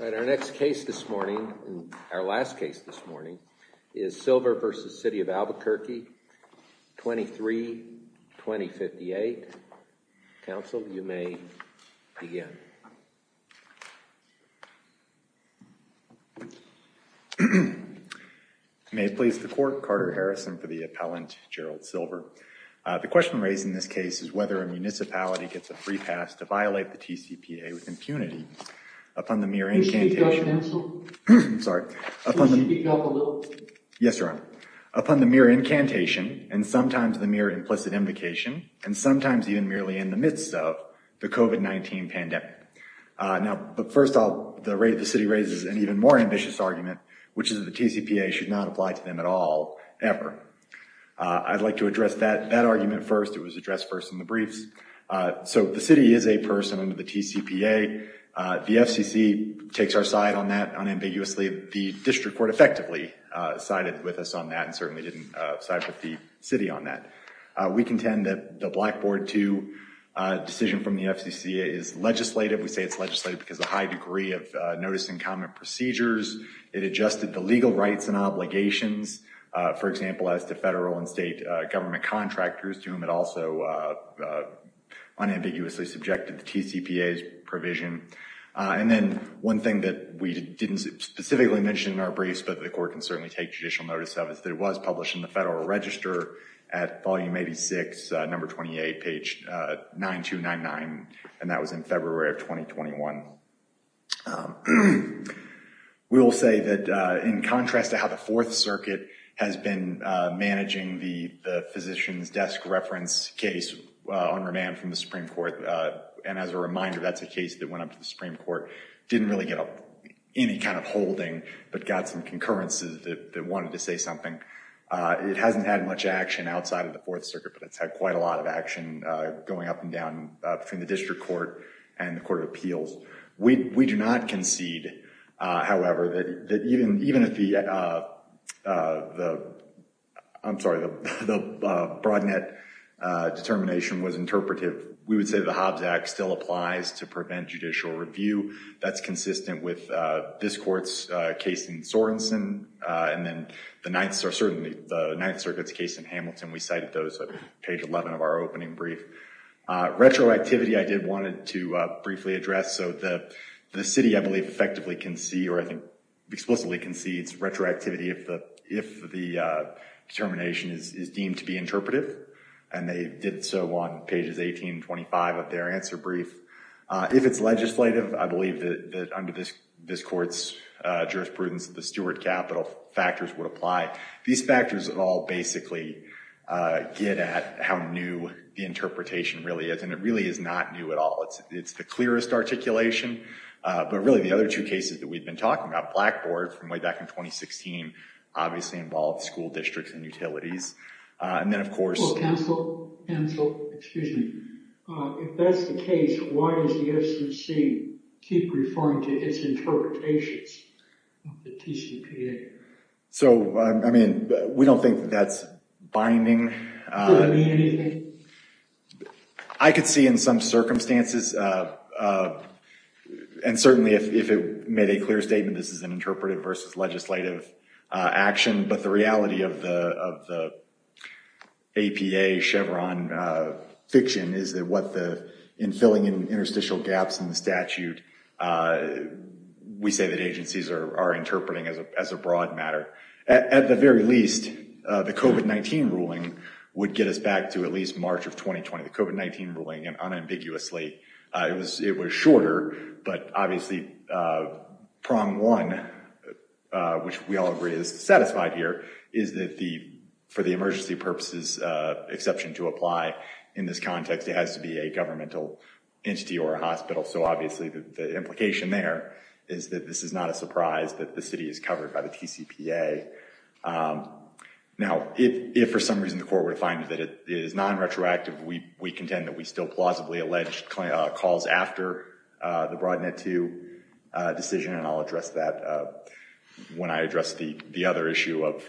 All right, our next case this morning, our last case this morning, is Silver versus City of Albuquerque 23-2058. Counsel, you may begin. May it please the court, Carter Harrison for the appellant Gerald Silver. The question raised in this case is whether a municipality gets a free pass to violate the TCPA with impunity upon the mere incantation. Yes, Your Honor. Upon the mere incantation and sometimes the mere implicit invocation and sometimes even merely in the midst of the COVID-19 pandemic. Now, first of all, the City raises an even more ambitious argument, which is the TCPA should not apply to them at all, ever. I'd like to the City is a person under the TCPA, the FCC takes our side on that unambiguously. The District Court effectively sided with us on that and certainly didn't side with the City on that. We contend that the Blackboard 2 decision from the FCC is legislative. We say it's legislative because of the high degree of notice and comment procedures. It adjusted the legal rights and obligations, for example, as to federal and state government contractors, to whom it also unambiguously subjected the TCPA's provision. And then one thing that we didn't specifically mention in our briefs, but the court can certainly take judicial notice of, is that it was published in the Federal Register at volume 86, number 28, page 9299, and that was in February of 2021. We will say that in contrast to how the Fourth Circuit has been managing the physician's desk reference case on remand from the Supreme Court, and as a reminder that's a case that went up to the Supreme Court, didn't really get any kind of holding, but got some concurrences that wanted to say something. It hasn't had much action outside of the Fourth Circuit, but it's had quite a lot of action going up and down between the District Court and the Court of Appeals. We do not concede, however, that even if the Broadnet determination was interpretive, we would say the Hobbs Act still applies to prevent judicial review. That's consistent with this court's case in Sorenson, and then the Ninth Circuit's case in Hamilton. We cited those at page 11 of our opening brief. Retroactivity I did want to briefly address, so the city, I believe, effectively concedes, or I think explicitly concedes retroactivity if the determination is deemed to be interpretive, and they did so on pages 18 and 25 of their answer brief. If it's legislative, I believe that under this court's jurisprudence, the Stuart capital factors would apply. These factors all basically get at how new the the clearest articulation, but really the other two cases that we've been talking about, Blackboard from way back in 2016, obviously involved school districts and utilities, and then of course, so I mean we don't think that's binding. I could see in some circumstances, and certainly if it made a clear statement this is an interpretive versus legislative action, but the reality of the APA Chevron fiction is that what the, in filling in interstitial gaps in the statute, we say that agencies are interpreting as a broad matter. At the very least, the COVID-19 ruling would get us back to at least March of 2020. The COVID-19 ruling, unambiguously, it was shorter, but obviously, prong one, which we all agree is satisfied here, is that for the emergency purposes exception to apply in this context, it has to be a governmental entity or a hospital, so obviously the implication there is that this is not a surprise that the city is covered by the TCPA. Now, if for some reason the court were to find that it is non-retroactive, we contend that we still plausibly alleged calls after the Broadnet 2 decision, and I'll address that when I address the the other issue of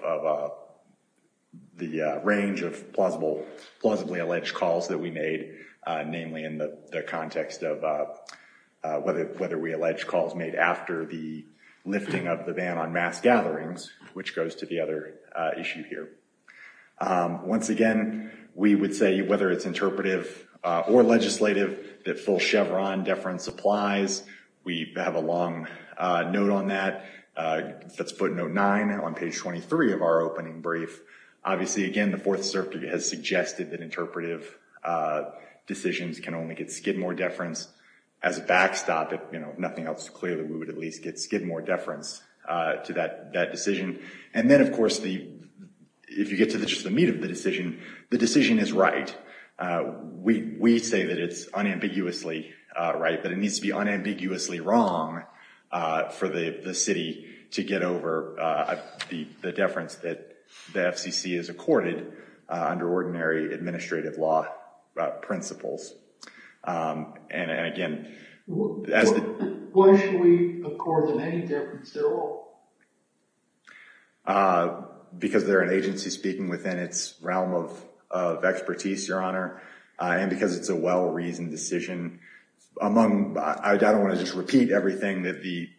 the range of plausibly alleged calls that we made, namely in the context of whether we lifted the ban on mass gatherings, which goes to the other issue here. Once again, we would say whether it's interpretive or legislative, that full Chevron deference applies. We have a long note on that. That's footnote 9 on page 23 of our opening brief. Obviously, again, the Fourth Circuit has suggested that interpretive decisions can only get more deference as a backstop, if we would at least give more deference to that decision. And then, of course, if you get to just the meat of the decision, the decision is right. We say that it's unambiguously right, but it needs to be unambiguously wrong for the city to get over the deference that the FCC has accorded under ordinary administrative law principles. And again, because they're an agency speaking within its realm of expertise, Your Honor, and because it's a well-reasoned decision. I don't want to just repeat everything that the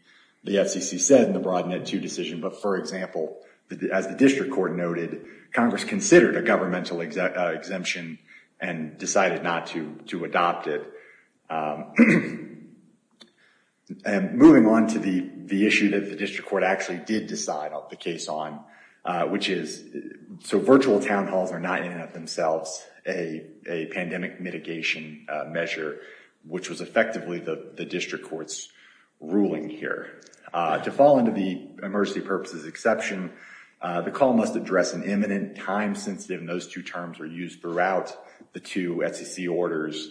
FCC said in the Broadnet 2 decision, but for example, as the district court noted, Congress considered a governmental exemption and decided not to adopt it. And moving on to the the issue that the district court actually did decide the case on, which is, so virtual town halls are not in and of themselves a pandemic mitigation measure, which was effectively the district court's ruling here. To fall into the emergency purposes exception, the call must address an imminent time sensitive, and those two terms were used throughout the two FCC orders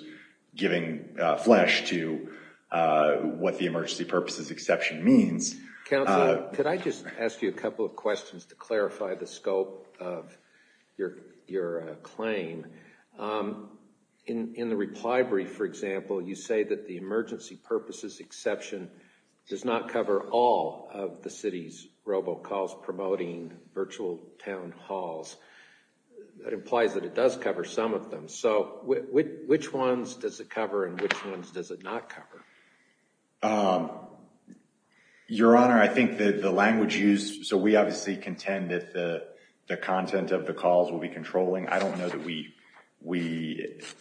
giving flesh to what the emergency purposes exception means. Counselor, could I just ask you a couple of questions to clarify the scope of your claim? In the reply brief, for example, you say that the emergency purposes exception does not cover all of the city's robocalls promoting virtual town halls. That implies that it does cover some of them. So which ones does it cover and which ones does it not cover? Your Honor, I think that the language used, so we obviously contend that the content of the calls will be controlling. I don't know that we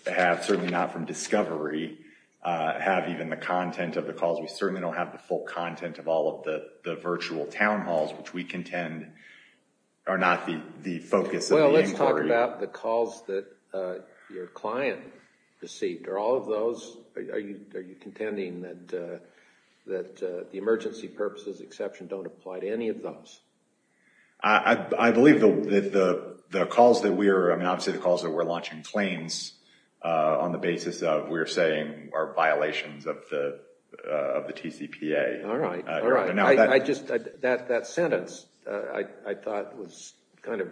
have, certainly not from discovery, have even the content of the calls. We certainly don't have the full content or not the focus of the inquiry. Well, let's talk about the calls that your client received. Are all of those, are you contending that the emergency purposes exception don't apply to any of those? I believe that the calls that we're, I mean obviously the calls that we're launching claims on the basis of we're saying are violations of the of the TCPA. All right, all right. I just, that sentence I thought was kind of,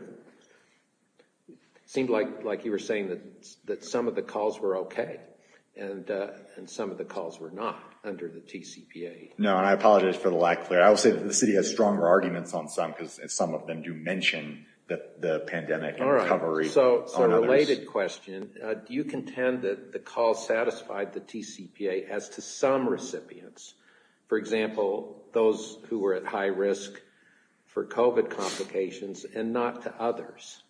seemed like like you were saying that that some of the calls were okay and and some of the calls were not under the TCPA. No, and I apologize for the lack there. I will say that the city has stronger arguments on some because some of them do mention that the pandemic. All right, so a related question, do you contend that the call satisfied the TCPA as to some COVID complications and not to others?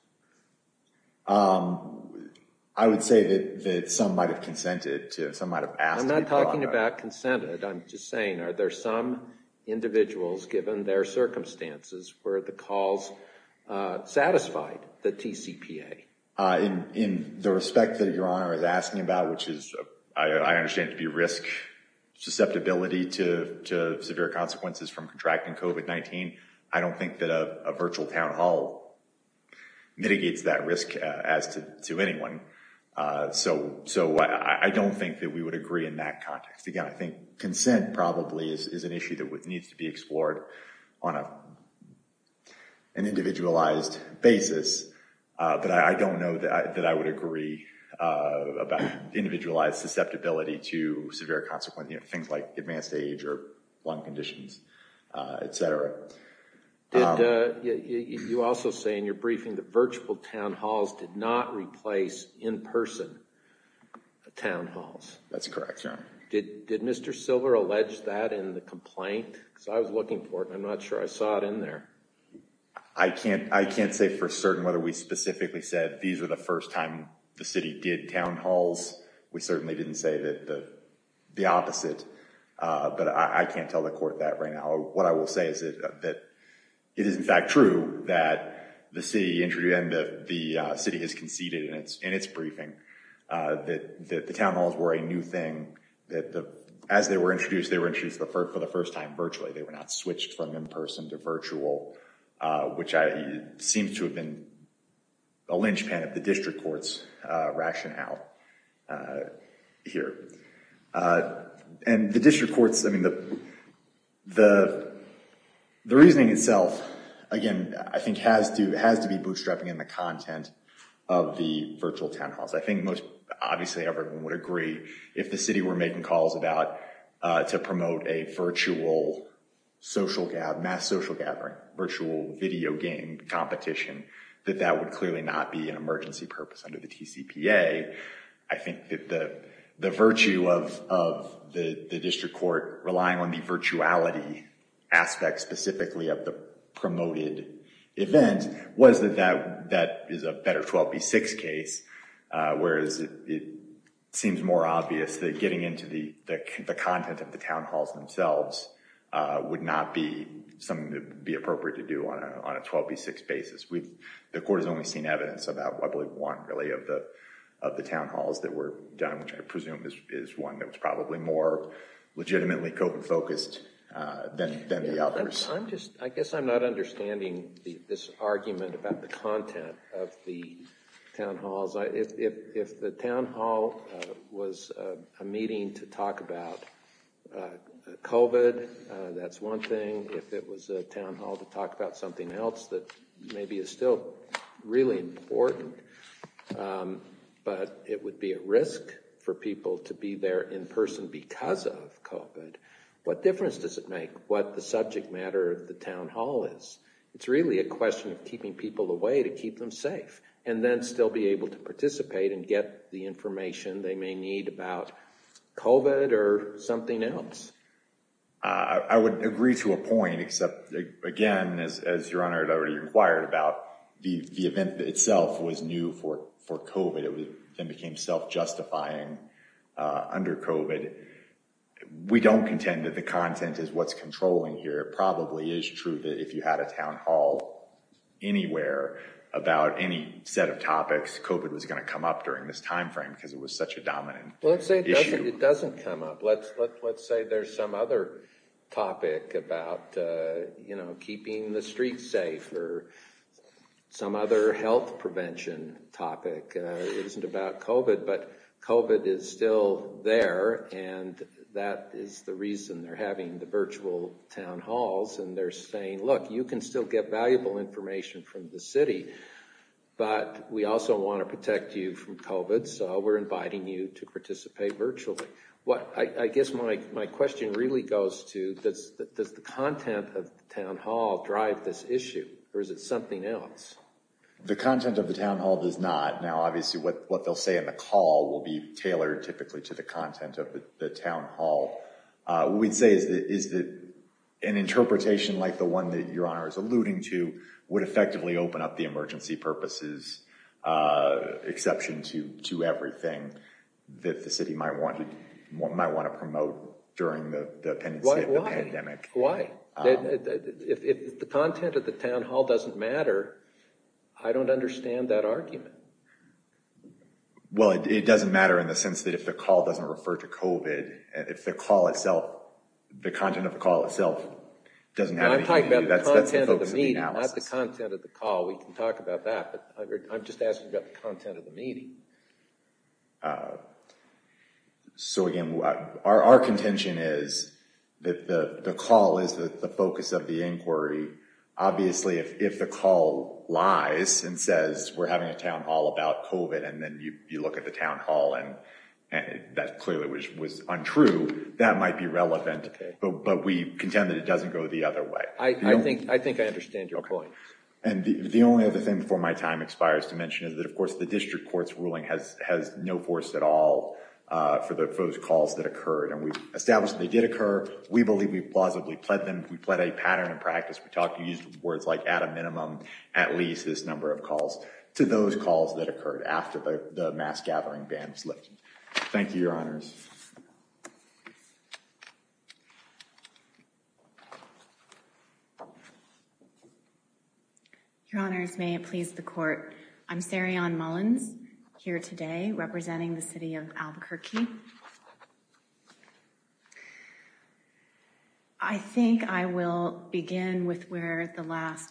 I would say that some might have consented to, some might have asked. I'm not talking about consented, I'm just saying are there some individuals given their circumstances where the calls satisfied the TCPA? In the respect that your honor is asking about, which is I understand to be risk susceptibility to severe consequences from contracting COVID-19, I don't think that a virtual town hall mitigates that risk as to anyone. So, so I don't think that we would agree in that context. Again, I think consent probably is an issue that needs to be explored on a an individualized basis, but I don't know that I would agree about individualized susceptibility to severe consequences, you know, things like advanced age or lung conditions, etc. You also say in your briefing that virtual town halls did not replace in-person town halls. That's correct, your honor. Did Mr. Silver allege that in the complaint? Because I was looking for it, I'm not sure I saw it in there. I can't, I can't say for certain whether we specifically said these are the first time the city did town halls. We certainly didn't say that the opposite, but I can't tell the court that right now. What I will say is that it is in fact true that the city introduced, and the city has conceded in its briefing, that the town halls were a new thing, that as they were introduced, they were introduced for the first time virtually. They were not switched from in-person to virtual, which seems to have been a linchpin of the district court's rationale here. And the district courts, I mean, the reasoning itself, again, I think has to, has to be bootstrapping in the content of the virtual town halls. I think most, obviously, everyone would agree if the city were making calls about, to promote a virtual social gathering, mass social gathering, virtual video game competition, that that would clearly not be an emergency purpose under the TCPA. I think that the virtue of the district court relying on the virtuality aspect, specifically of the promoted event, was that that is a better 12v6 case, whereas it seems more obvious that getting into the content of the town halls themselves would not be something that would be appropriate to do on a 12v6 basis. We've, the court has only seen evidence about, I believe, one, really, of the town halls that were done, which I presume is one that was probably more legitimately COVID-focused than the others. I'm just, I guess I'm not understanding this argument about the content of the town halls. If the town hall was a meeting to talk about COVID, that's one thing. If it was a town hall to talk about something else that maybe is still really important, but it would be a risk for people to be there in person because of COVID, what difference does it make what the subject matter of the town hall is? It's really a question of keeping people away to keep them safe, and then still be able to provide the information they may need about COVID or something else. I would agree to a point, except again, as your Honor had already inquired about, the event itself was new for COVID. It then became self-justifying under COVID. We don't contend that the content is what's controlling here. It probably is true that if you had a town hall anywhere about any set of topics, COVID was going to come up during this time frame because it was such a dominant issue. Let's say it doesn't come up. Let's say there's some other topic about keeping the streets safe or some other health prevention topic. It isn't about COVID, but COVID is still there, and that is the reason they're having the virtual town halls, and they're saying, look, you can still get valuable information from the city, but we also want to protect you from COVID, so we're inviting you to participate virtually. I guess my question really goes to, does the content of the town hall drive this issue, or is it something else? The content of the town hall does not. Now, obviously, what they'll say in the call will be tailored typically to the content of the town hall. What we'd say is that an interpretation like the one that your Honor is alluding to would effectively open up the emergency purposes exception to everything that the city might want to promote during the pandemic. Why? Why? If the content of the town hall doesn't matter, I don't understand that argument. Well, it doesn't matter in the sense that if the call doesn't refer to COVID, if the call itself, the content of the call itself doesn't have any meaning, that's the focus of the analysis. Well, not the content of the call. We can talk about that, but I'm just asking about the content of the meeting. So again, our contention is that the call is the focus of the inquiry. Obviously, if the call lies and says, we're having a town hall about COVID, and then you look at the town hall, and that clearly was untrue, that might be relevant, but we contend that it doesn't go the other way. I think I understand your point. And the only other thing before my time expires to mention is that, of course, the district court's ruling has no force at all for those calls that occurred, and we established they did occur. We believe we plausibly pled them. We pled a pattern of practice. We used words like at a minimum, at least this number of calls, to those calls that occurred after the mass gathering ban was lifted. Thank you, Your Honors. Your Honors, may it please the Court. I'm Sarian Mullins, here today, representing the City of Albuquerque. I think I will begin with where the last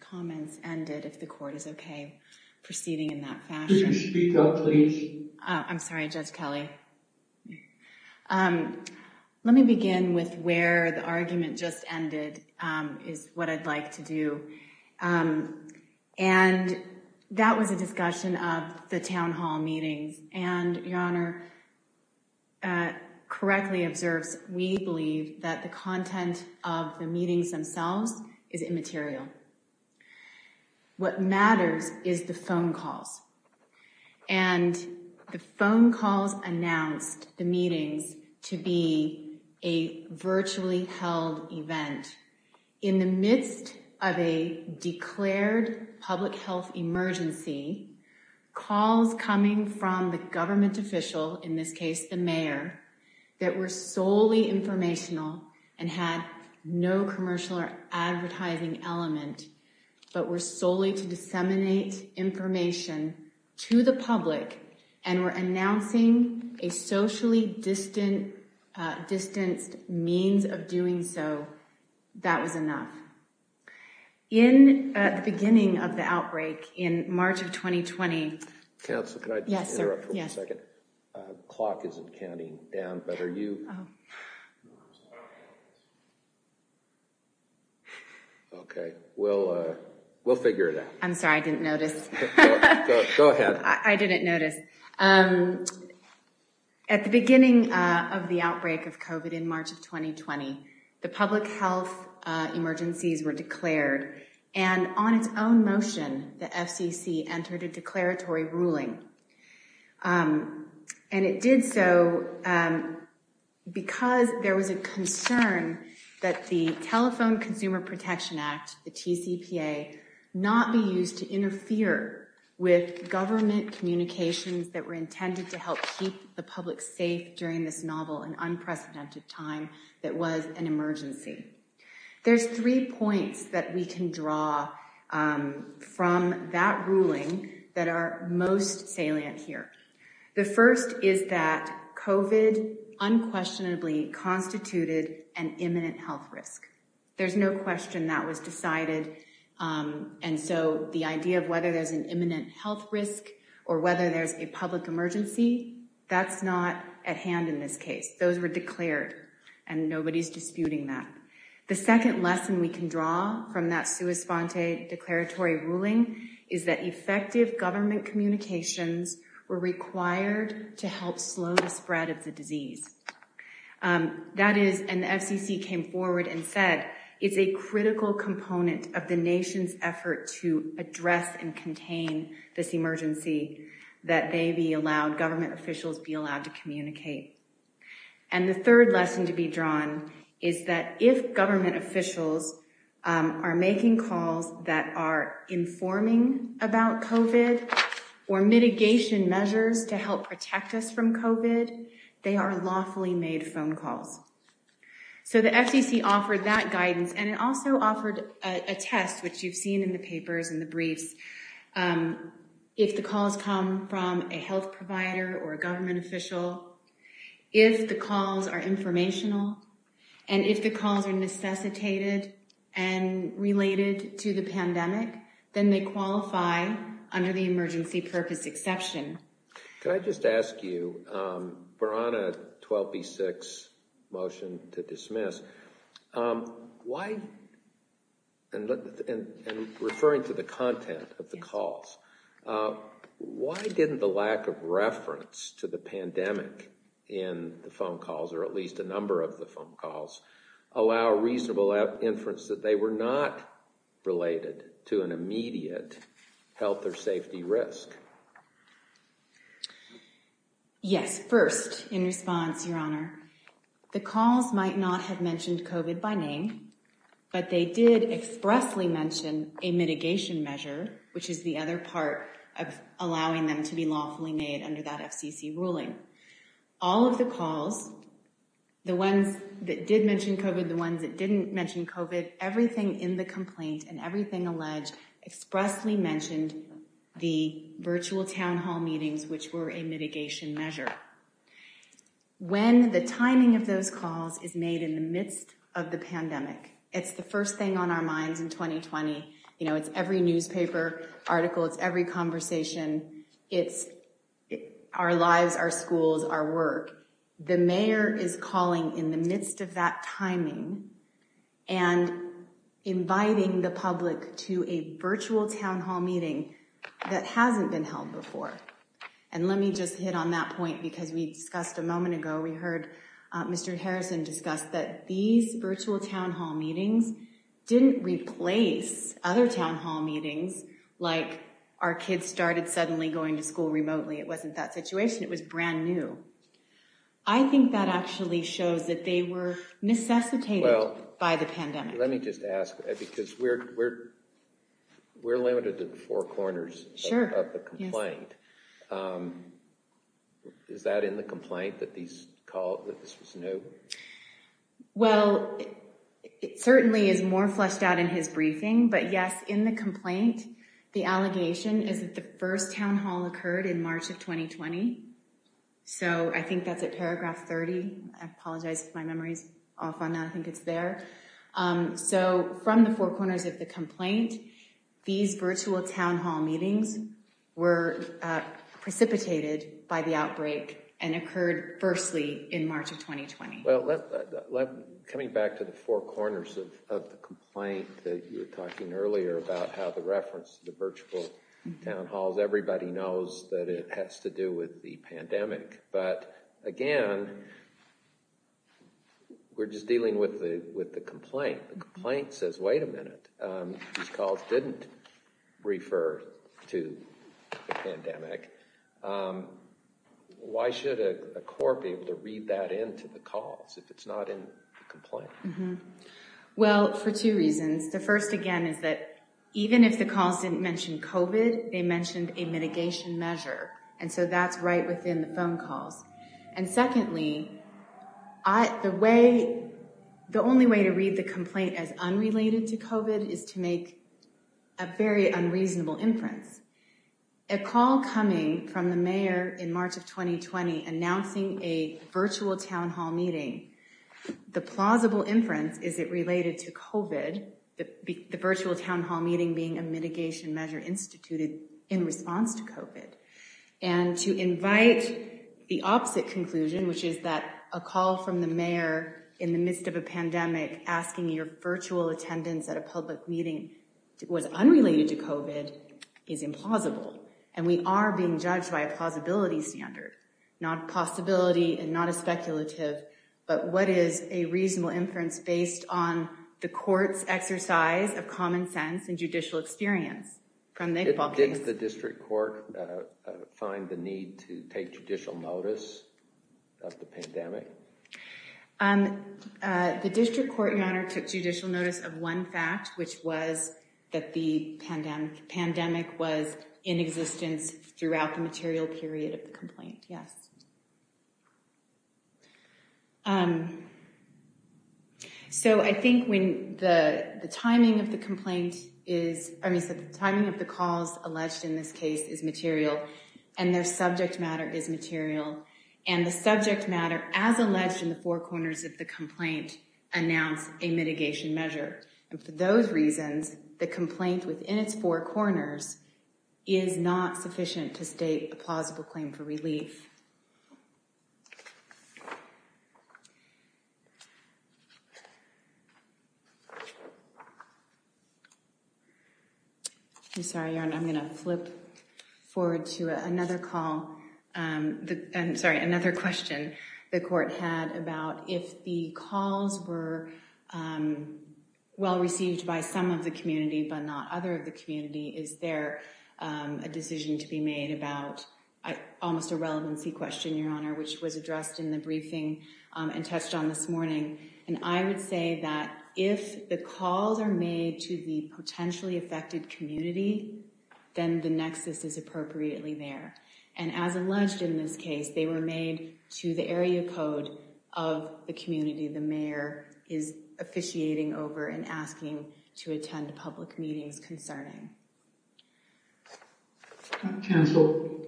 comments ended, if the Court is okay proceeding in that fashion. Could you speak up, please? I'm sorry, Judge Kelly. Let me begin with where the argument just ended is what I'd like to do. And that was a discussion of the town hall meetings, and Your Honor, correctly observes, we believe that the content of the meetings themselves is immaterial. What matters is the phone calls, and the phone calls announced the meetings to be a virtually held event. In the midst of a declared public health emergency, calls coming from the government official, in this case, the mayor, that were solely informational, and had no commercial or advertising element, but were solely to disseminate information to the public, and were announcing a socially distanced means of doing so, that was enough. In the beginning of the outbreak, in March of 2020, Counsel, can I just interrupt for one second? Yes, sir. The clock isn't counting down, but are you? Okay, we'll figure it out. I'm sorry, I didn't notice. Go ahead. I didn't notice. At the beginning of the outbreak of COVID in March of 2020, the public health emergencies were declared, and on its own motion, the FCC entered a declaratory ruling. And it did so because there was a concern that the Telephone Consumer Protection Act, the TCPA, not be used to interfere with government communications that were intended to help keep the public safe during this novel and unprecedented time that was an emergency. There's three points that we can draw from that ruling that are most salient here. The first is that COVID unquestionably constituted an imminent health risk. There's no question that was decided. And so the idea of whether there's an imminent health risk or whether there's a public emergency, that's not at hand in this case. Those were declared, and nobody's disputing that. The second lesson we can draw from that sua sponte declaratory ruling is that effective government communications were required to help slow the spread of the disease. That is, and the FCC came forward and said, it's a critical component of the nation's effort to address and contain this emergency, that they be allowed, government officials be allowed to communicate. And the third lesson to be drawn is that if government officials are making calls that are informing about COVID or mitigation measures to help protect us from COVID, they are lawfully made phone calls. So the FCC offered that guidance, and it also offered a test, which you've seen in the papers and the briefs. If the calls come from a health provider or a government official, if the calls are informational, and if the calls are necessitated and related to the pandemic, then they qualify under the emergency purpose exception. Can I just ask you, we're on a 12B6 motion to dismiss. Why, and referring to the content of the calls, why didn't the lack of reference to the pandemic in the phone calls, or at least a number of the phone calls, allow reasonable inference that they were not related to an immediate health or safety risk? Yes, first, in response, Your Honor, the calls might not have mentioned COVID by name, but they did expressly mention a mitigation measure, which is the other part of allowing them to be lawfully made under that FCC ruling. All of the calls, the ones that did mention COVID, the ones that didn't mention COVID, everything in the complaint and everything alleged expressly mentioned the virtual town hall meetings, which were a mitigation measure. When the timing of those calls is made in the midst of the pandemic, it's the first thing on our minds in 2020. You know, it's every newspaper article. It's every conversation. It's our lives, our schools, our work. The mayor is calling in the midst of that timing and inviting the public to a virtual town hall meeting that hasn't been held before. And let me just hit on that point, because we discussed a moment ago, we heard Mr. Harrison discuss that these virtual town hall meetings didn't replace other town hall meetings. Like our kids started suddenly going to school remotely. It wasn't that situation. It was brand new. I think that actually shows that they were necessitated by the pandemic. Let me just ask, because we're limited to the four corners of the complaint. Is that in the complaint that these calls, that this was new? Well, it certainly is more fleshed out in his briefing. But yes, in the complaint, the allegation is that the first town hall occurred in March of 2020. So I think that's a paragraph 30. I apologize if my memory's off on that. I think it's there. So from the four corners of the complaint, these virtual town hall meetings were precipitated by the outbreak and occurred firstly in March of 2020. Well, coming back to the four corners of the complaint that you were talking earlier about how the reference to the virtual town halls, everybody knows that it has to do with the pandemic. But again, we're just dealing with the complaint. The complaint says, wait a minute, these calls didn't refer to the pandemic. Why should a court be able to read that into the calls if it's not in the complaint? Well, for two reasons. The first, again, is that even if the calls didn't mention COVID, they mentioned a mitigation measure. And so that's right within the phone calls. And secondly, the only way to read the complaint as unrelated to COVID is to make a very unreasonable inference. A call coming from the mayor in March of 2020 announcing a virtual town hall meeting, the plausible inference is it related to COVID, the virtual town hall meeting being a mitigation measure instituted in response to COVID. And to invite the opposite conclusion, which is that a call from the mayor in the midst of a pandemic asking your virtual attendance at a public meeting was unrelated to COVID is implausible. And we are being judged by a plausibility standard, not possibility and not a speculative. But what is a reasonable inference based on the court's exercise of common sense and judicial experience? Did the district court find the need to take judicial notice of the pandemic? The district court, Your Honor, took judicial notice of one fact, which was that the pandemic was in existence throughout the material period of the complaint. Yes. So I think when the timing of the complaint is, I mean, the timing of the calls alleged in this case is material and their subject matter is material. And the subject matter, as alleged in the four corners of the complaint, announced a mitigation measure. And for those reasons, the complaint within its four corners is not sufficient to state a plausible claim for relief. I'm sorry, Your Honor, I'm going to flip forward to another call. I'm sorry, another question the court had about if the calls were well received by some of the community, but not other of the community. Is there a decision to be made about almost a relevancy question, Your Honor, which was addressed in the briefing and touched on this morning? And I would say that if the calls are made to the potentially affected community, then the nexus is appropriately there. And as alleged in this case, they were made to the area code of the community. The mayor is officiating over and asking to attend public meetings concerning. Counsel.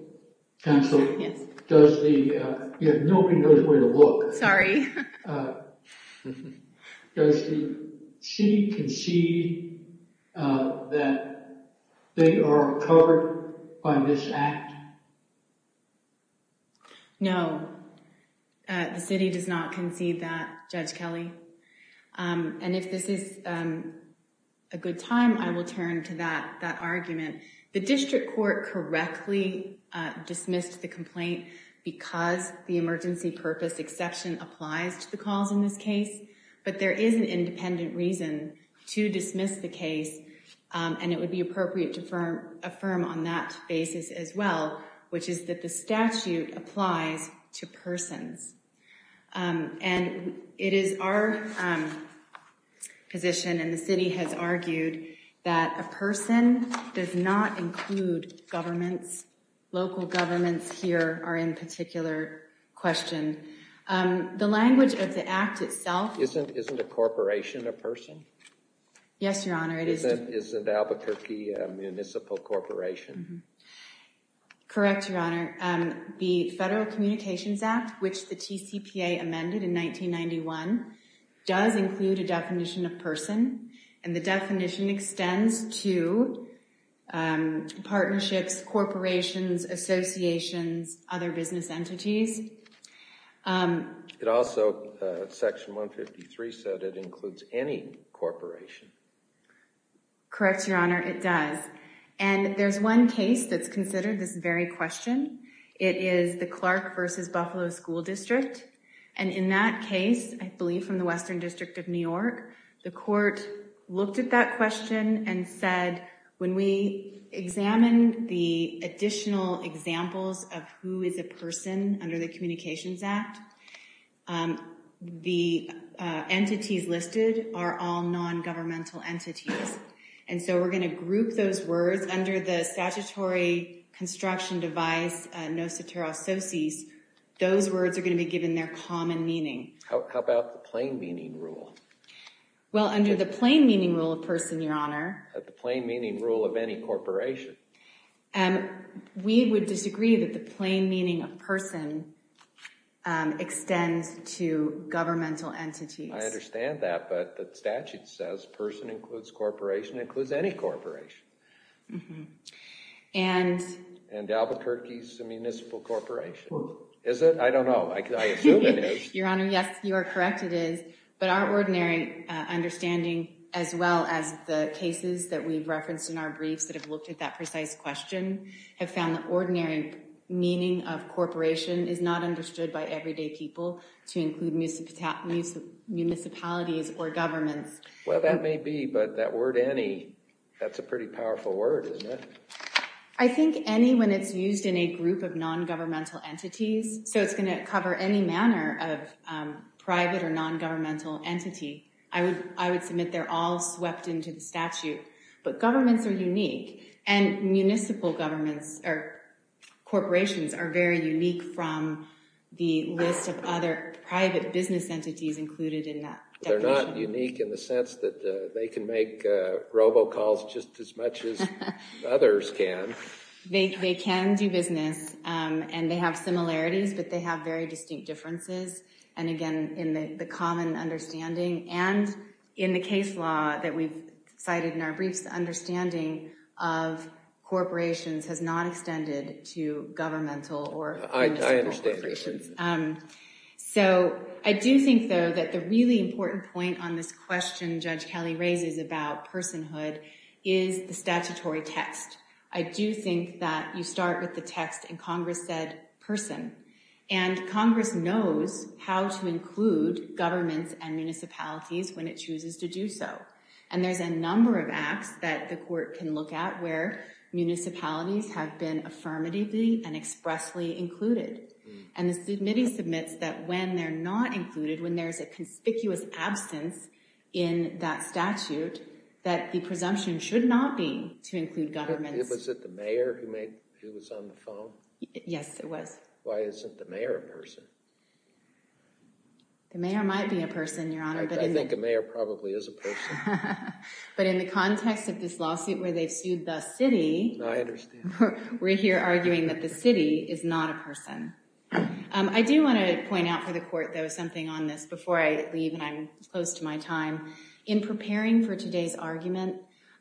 Counsel. Yes. Does the. Nobody knows where to look. Sorry. Does the city concede that they are covered by this act? No. The city does not concede that, Judge Kelly. And if this is a good time, I will turn to that that argument. The district court correctly dismissed the complaint because the emergency purpose exception applies to the cause in this case. But there is an independent reason to dismiss the case. And it would be appropriate to affirm on that basis as well, which is that the statute applies to persons. And it is our position and the city has argued that a person does not include governments. Local governments here are in particular question. The language of the act itself. Isn't isn't a corporation a person? Yes, Your Honor. It is. Isn't Albuquerque a municipal corporation? Correct, Your Honor. The Federal Communications Act, which the TCPA amended in 1991, does include a definition of person. And the definition extends to partnerships, corporations, associations, other business entities. It also. Section 153 said it includes any corporation. Correct, Your Honor. It does. And there's one case that's considered this very question. It is the Clark versus Buffalo School District. And in that case, I believe from the Western District of New York, the court looked at that question and said, when we examine the additional examples of who is a person under the Communications Act. The entities listed are all nongovernmental entities. And so we're going to group those words under the statutory construction device. NOSOTERA Associates, those words are going to be given their common meaning. How about the plain meaning rule? Well, under the plain meaning rule of person, Your Honor. The plain meaning rule of any corporation. And we would disagree that the plain meaning of person extends to governmental entities. I understand that. But the statute says person includes corporation, includes any corporation. And Albuquerque is a municipal corporation. Is it? I don't know. I assume it is. Your Honor, yes, you are correct. It is. But our ordinary understanding, as well as the cases that we've referenced in our briefs that have looked at that precise question, have found the ordinary meaning of corporation is not understood by everyday people to include municipalities or governments. Well, that may be. But that word any, that's a pretty powerful word, isn't it? I think any when it's used in a group of nongovernmental entities. So it's going to cover any manner of private or nongovernmental entity. I would submit they're all swept into the statute. But governments are unique. And municipal governments or corporations are very unique from the list of other private business entities included in that definition. They're not unique in the sense that they can make robocalls just as much as others can. They can do business. And they have similarities, but they have very distinct differences. And, again, in the common understanding and in the case law that we've cited in our briefs, the understanding of corporations has not extended to governmental or municipal corporations. I understand that. So I do think, though, that the really important point on this question Judge Kelly raises about personhood is the statutory text. I do think that you start with the text and Congress said person. And Congress knows how to include governments and municipalities when it chooses to do so. And there's a number of acts that the court can look at where municipalities have been affirmatively and expressly included. And the submittee submits that when they're not included, when there's a conspicuous absence in that statute, that the presumption should not be to include governments. Was it the mayor who was on the phone? Yes, it was. Why isn't the mayor a person? The mayor might be a person, Your Honor. I think a mayor probably is a person. But in the context of this lawsuit where they've sued the city. I understand. We're here arguing that the city is not a person. I do want to point out for the court, though, something on this before I leave and I'm close to my time. In preparing for today's argument,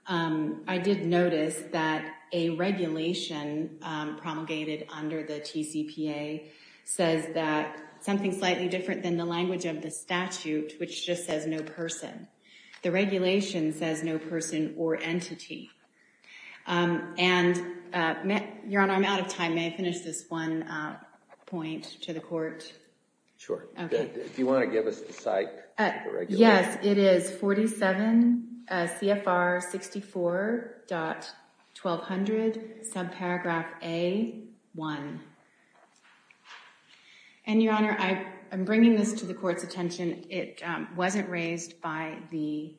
I did notice that a regulation promulgated under the TCPA says that something slightly different than the language of the statute, which just says no person. The regulation says no person or entity. And, Your Honor, I'm out of time. May I finish this one point to the court? Sure. Do you want to give us the site? Yes, it is 47 CFR 64.1200, subparagraph A1. And, Your Honor, I am bringing this to the court's attention. It wasn't raised by the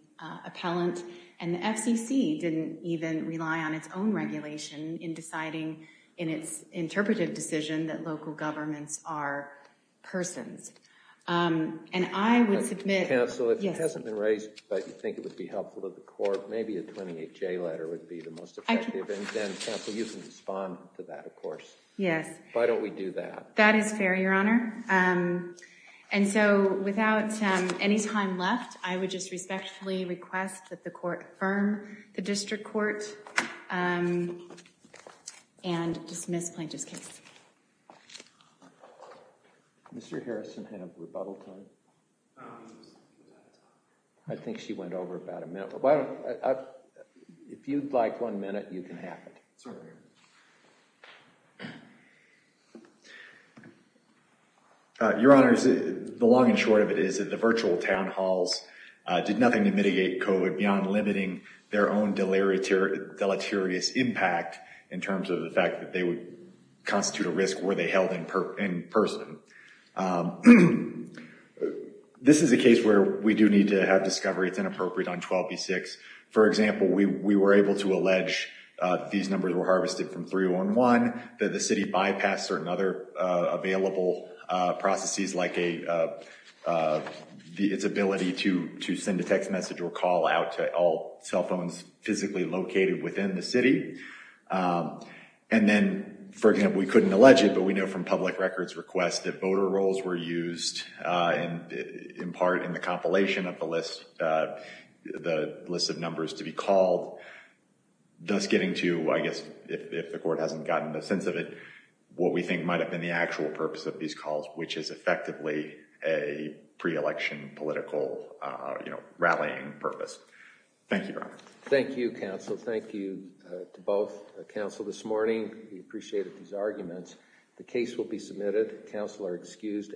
appellant. And the FCC didn't even rely on its own regulation in deciding in its interpretive decision that local governments are persons. And I would submit... Counsel, if it hasn't been raised, but you think it would be helpful to the court, maybe a 28J letter would be the most effective. Counsel, you can respond to that, of course. Yes. Why don't we do that? That is fair, Your Honor. And so, without any time left, I would just respectfully request that the court affirm the district court and dismiss plaintiff's case. Did Mr. Harrison have rebuttal time? I think she went over about a minute. If you'd like one minute, you can have it. Certainly. Your Honors, the long and short of it is that the virtual town halls did nothing to mitigate COVID beyond limiting their own deleterious impact in terms of the fact that they would constitute a risk were they held in person. This is a case where we do need to have discovery. It's inappropriate on 12B6. For example, we were able to allege these numbers were harvested from 311, that the city bypassed certain other available processes, like its ability to send a text message or call out to all cell phones physically located within the city. And then, for example, we couldn't allege it, but we know from public records requests that voter rolls were used, in part in the compilation of the list of numbers to be called, thus getting to, I guess, if the court hasn't gotten a sense of it, what we think might have been the actual purpose of these calls, which is effectively a pre-election political rallying purpose. Thank you, Your Honors. Thank you, counsel. Thank you to both counsel this morning. We appreciated these arguments. The case will be submitted. Counsel are excused.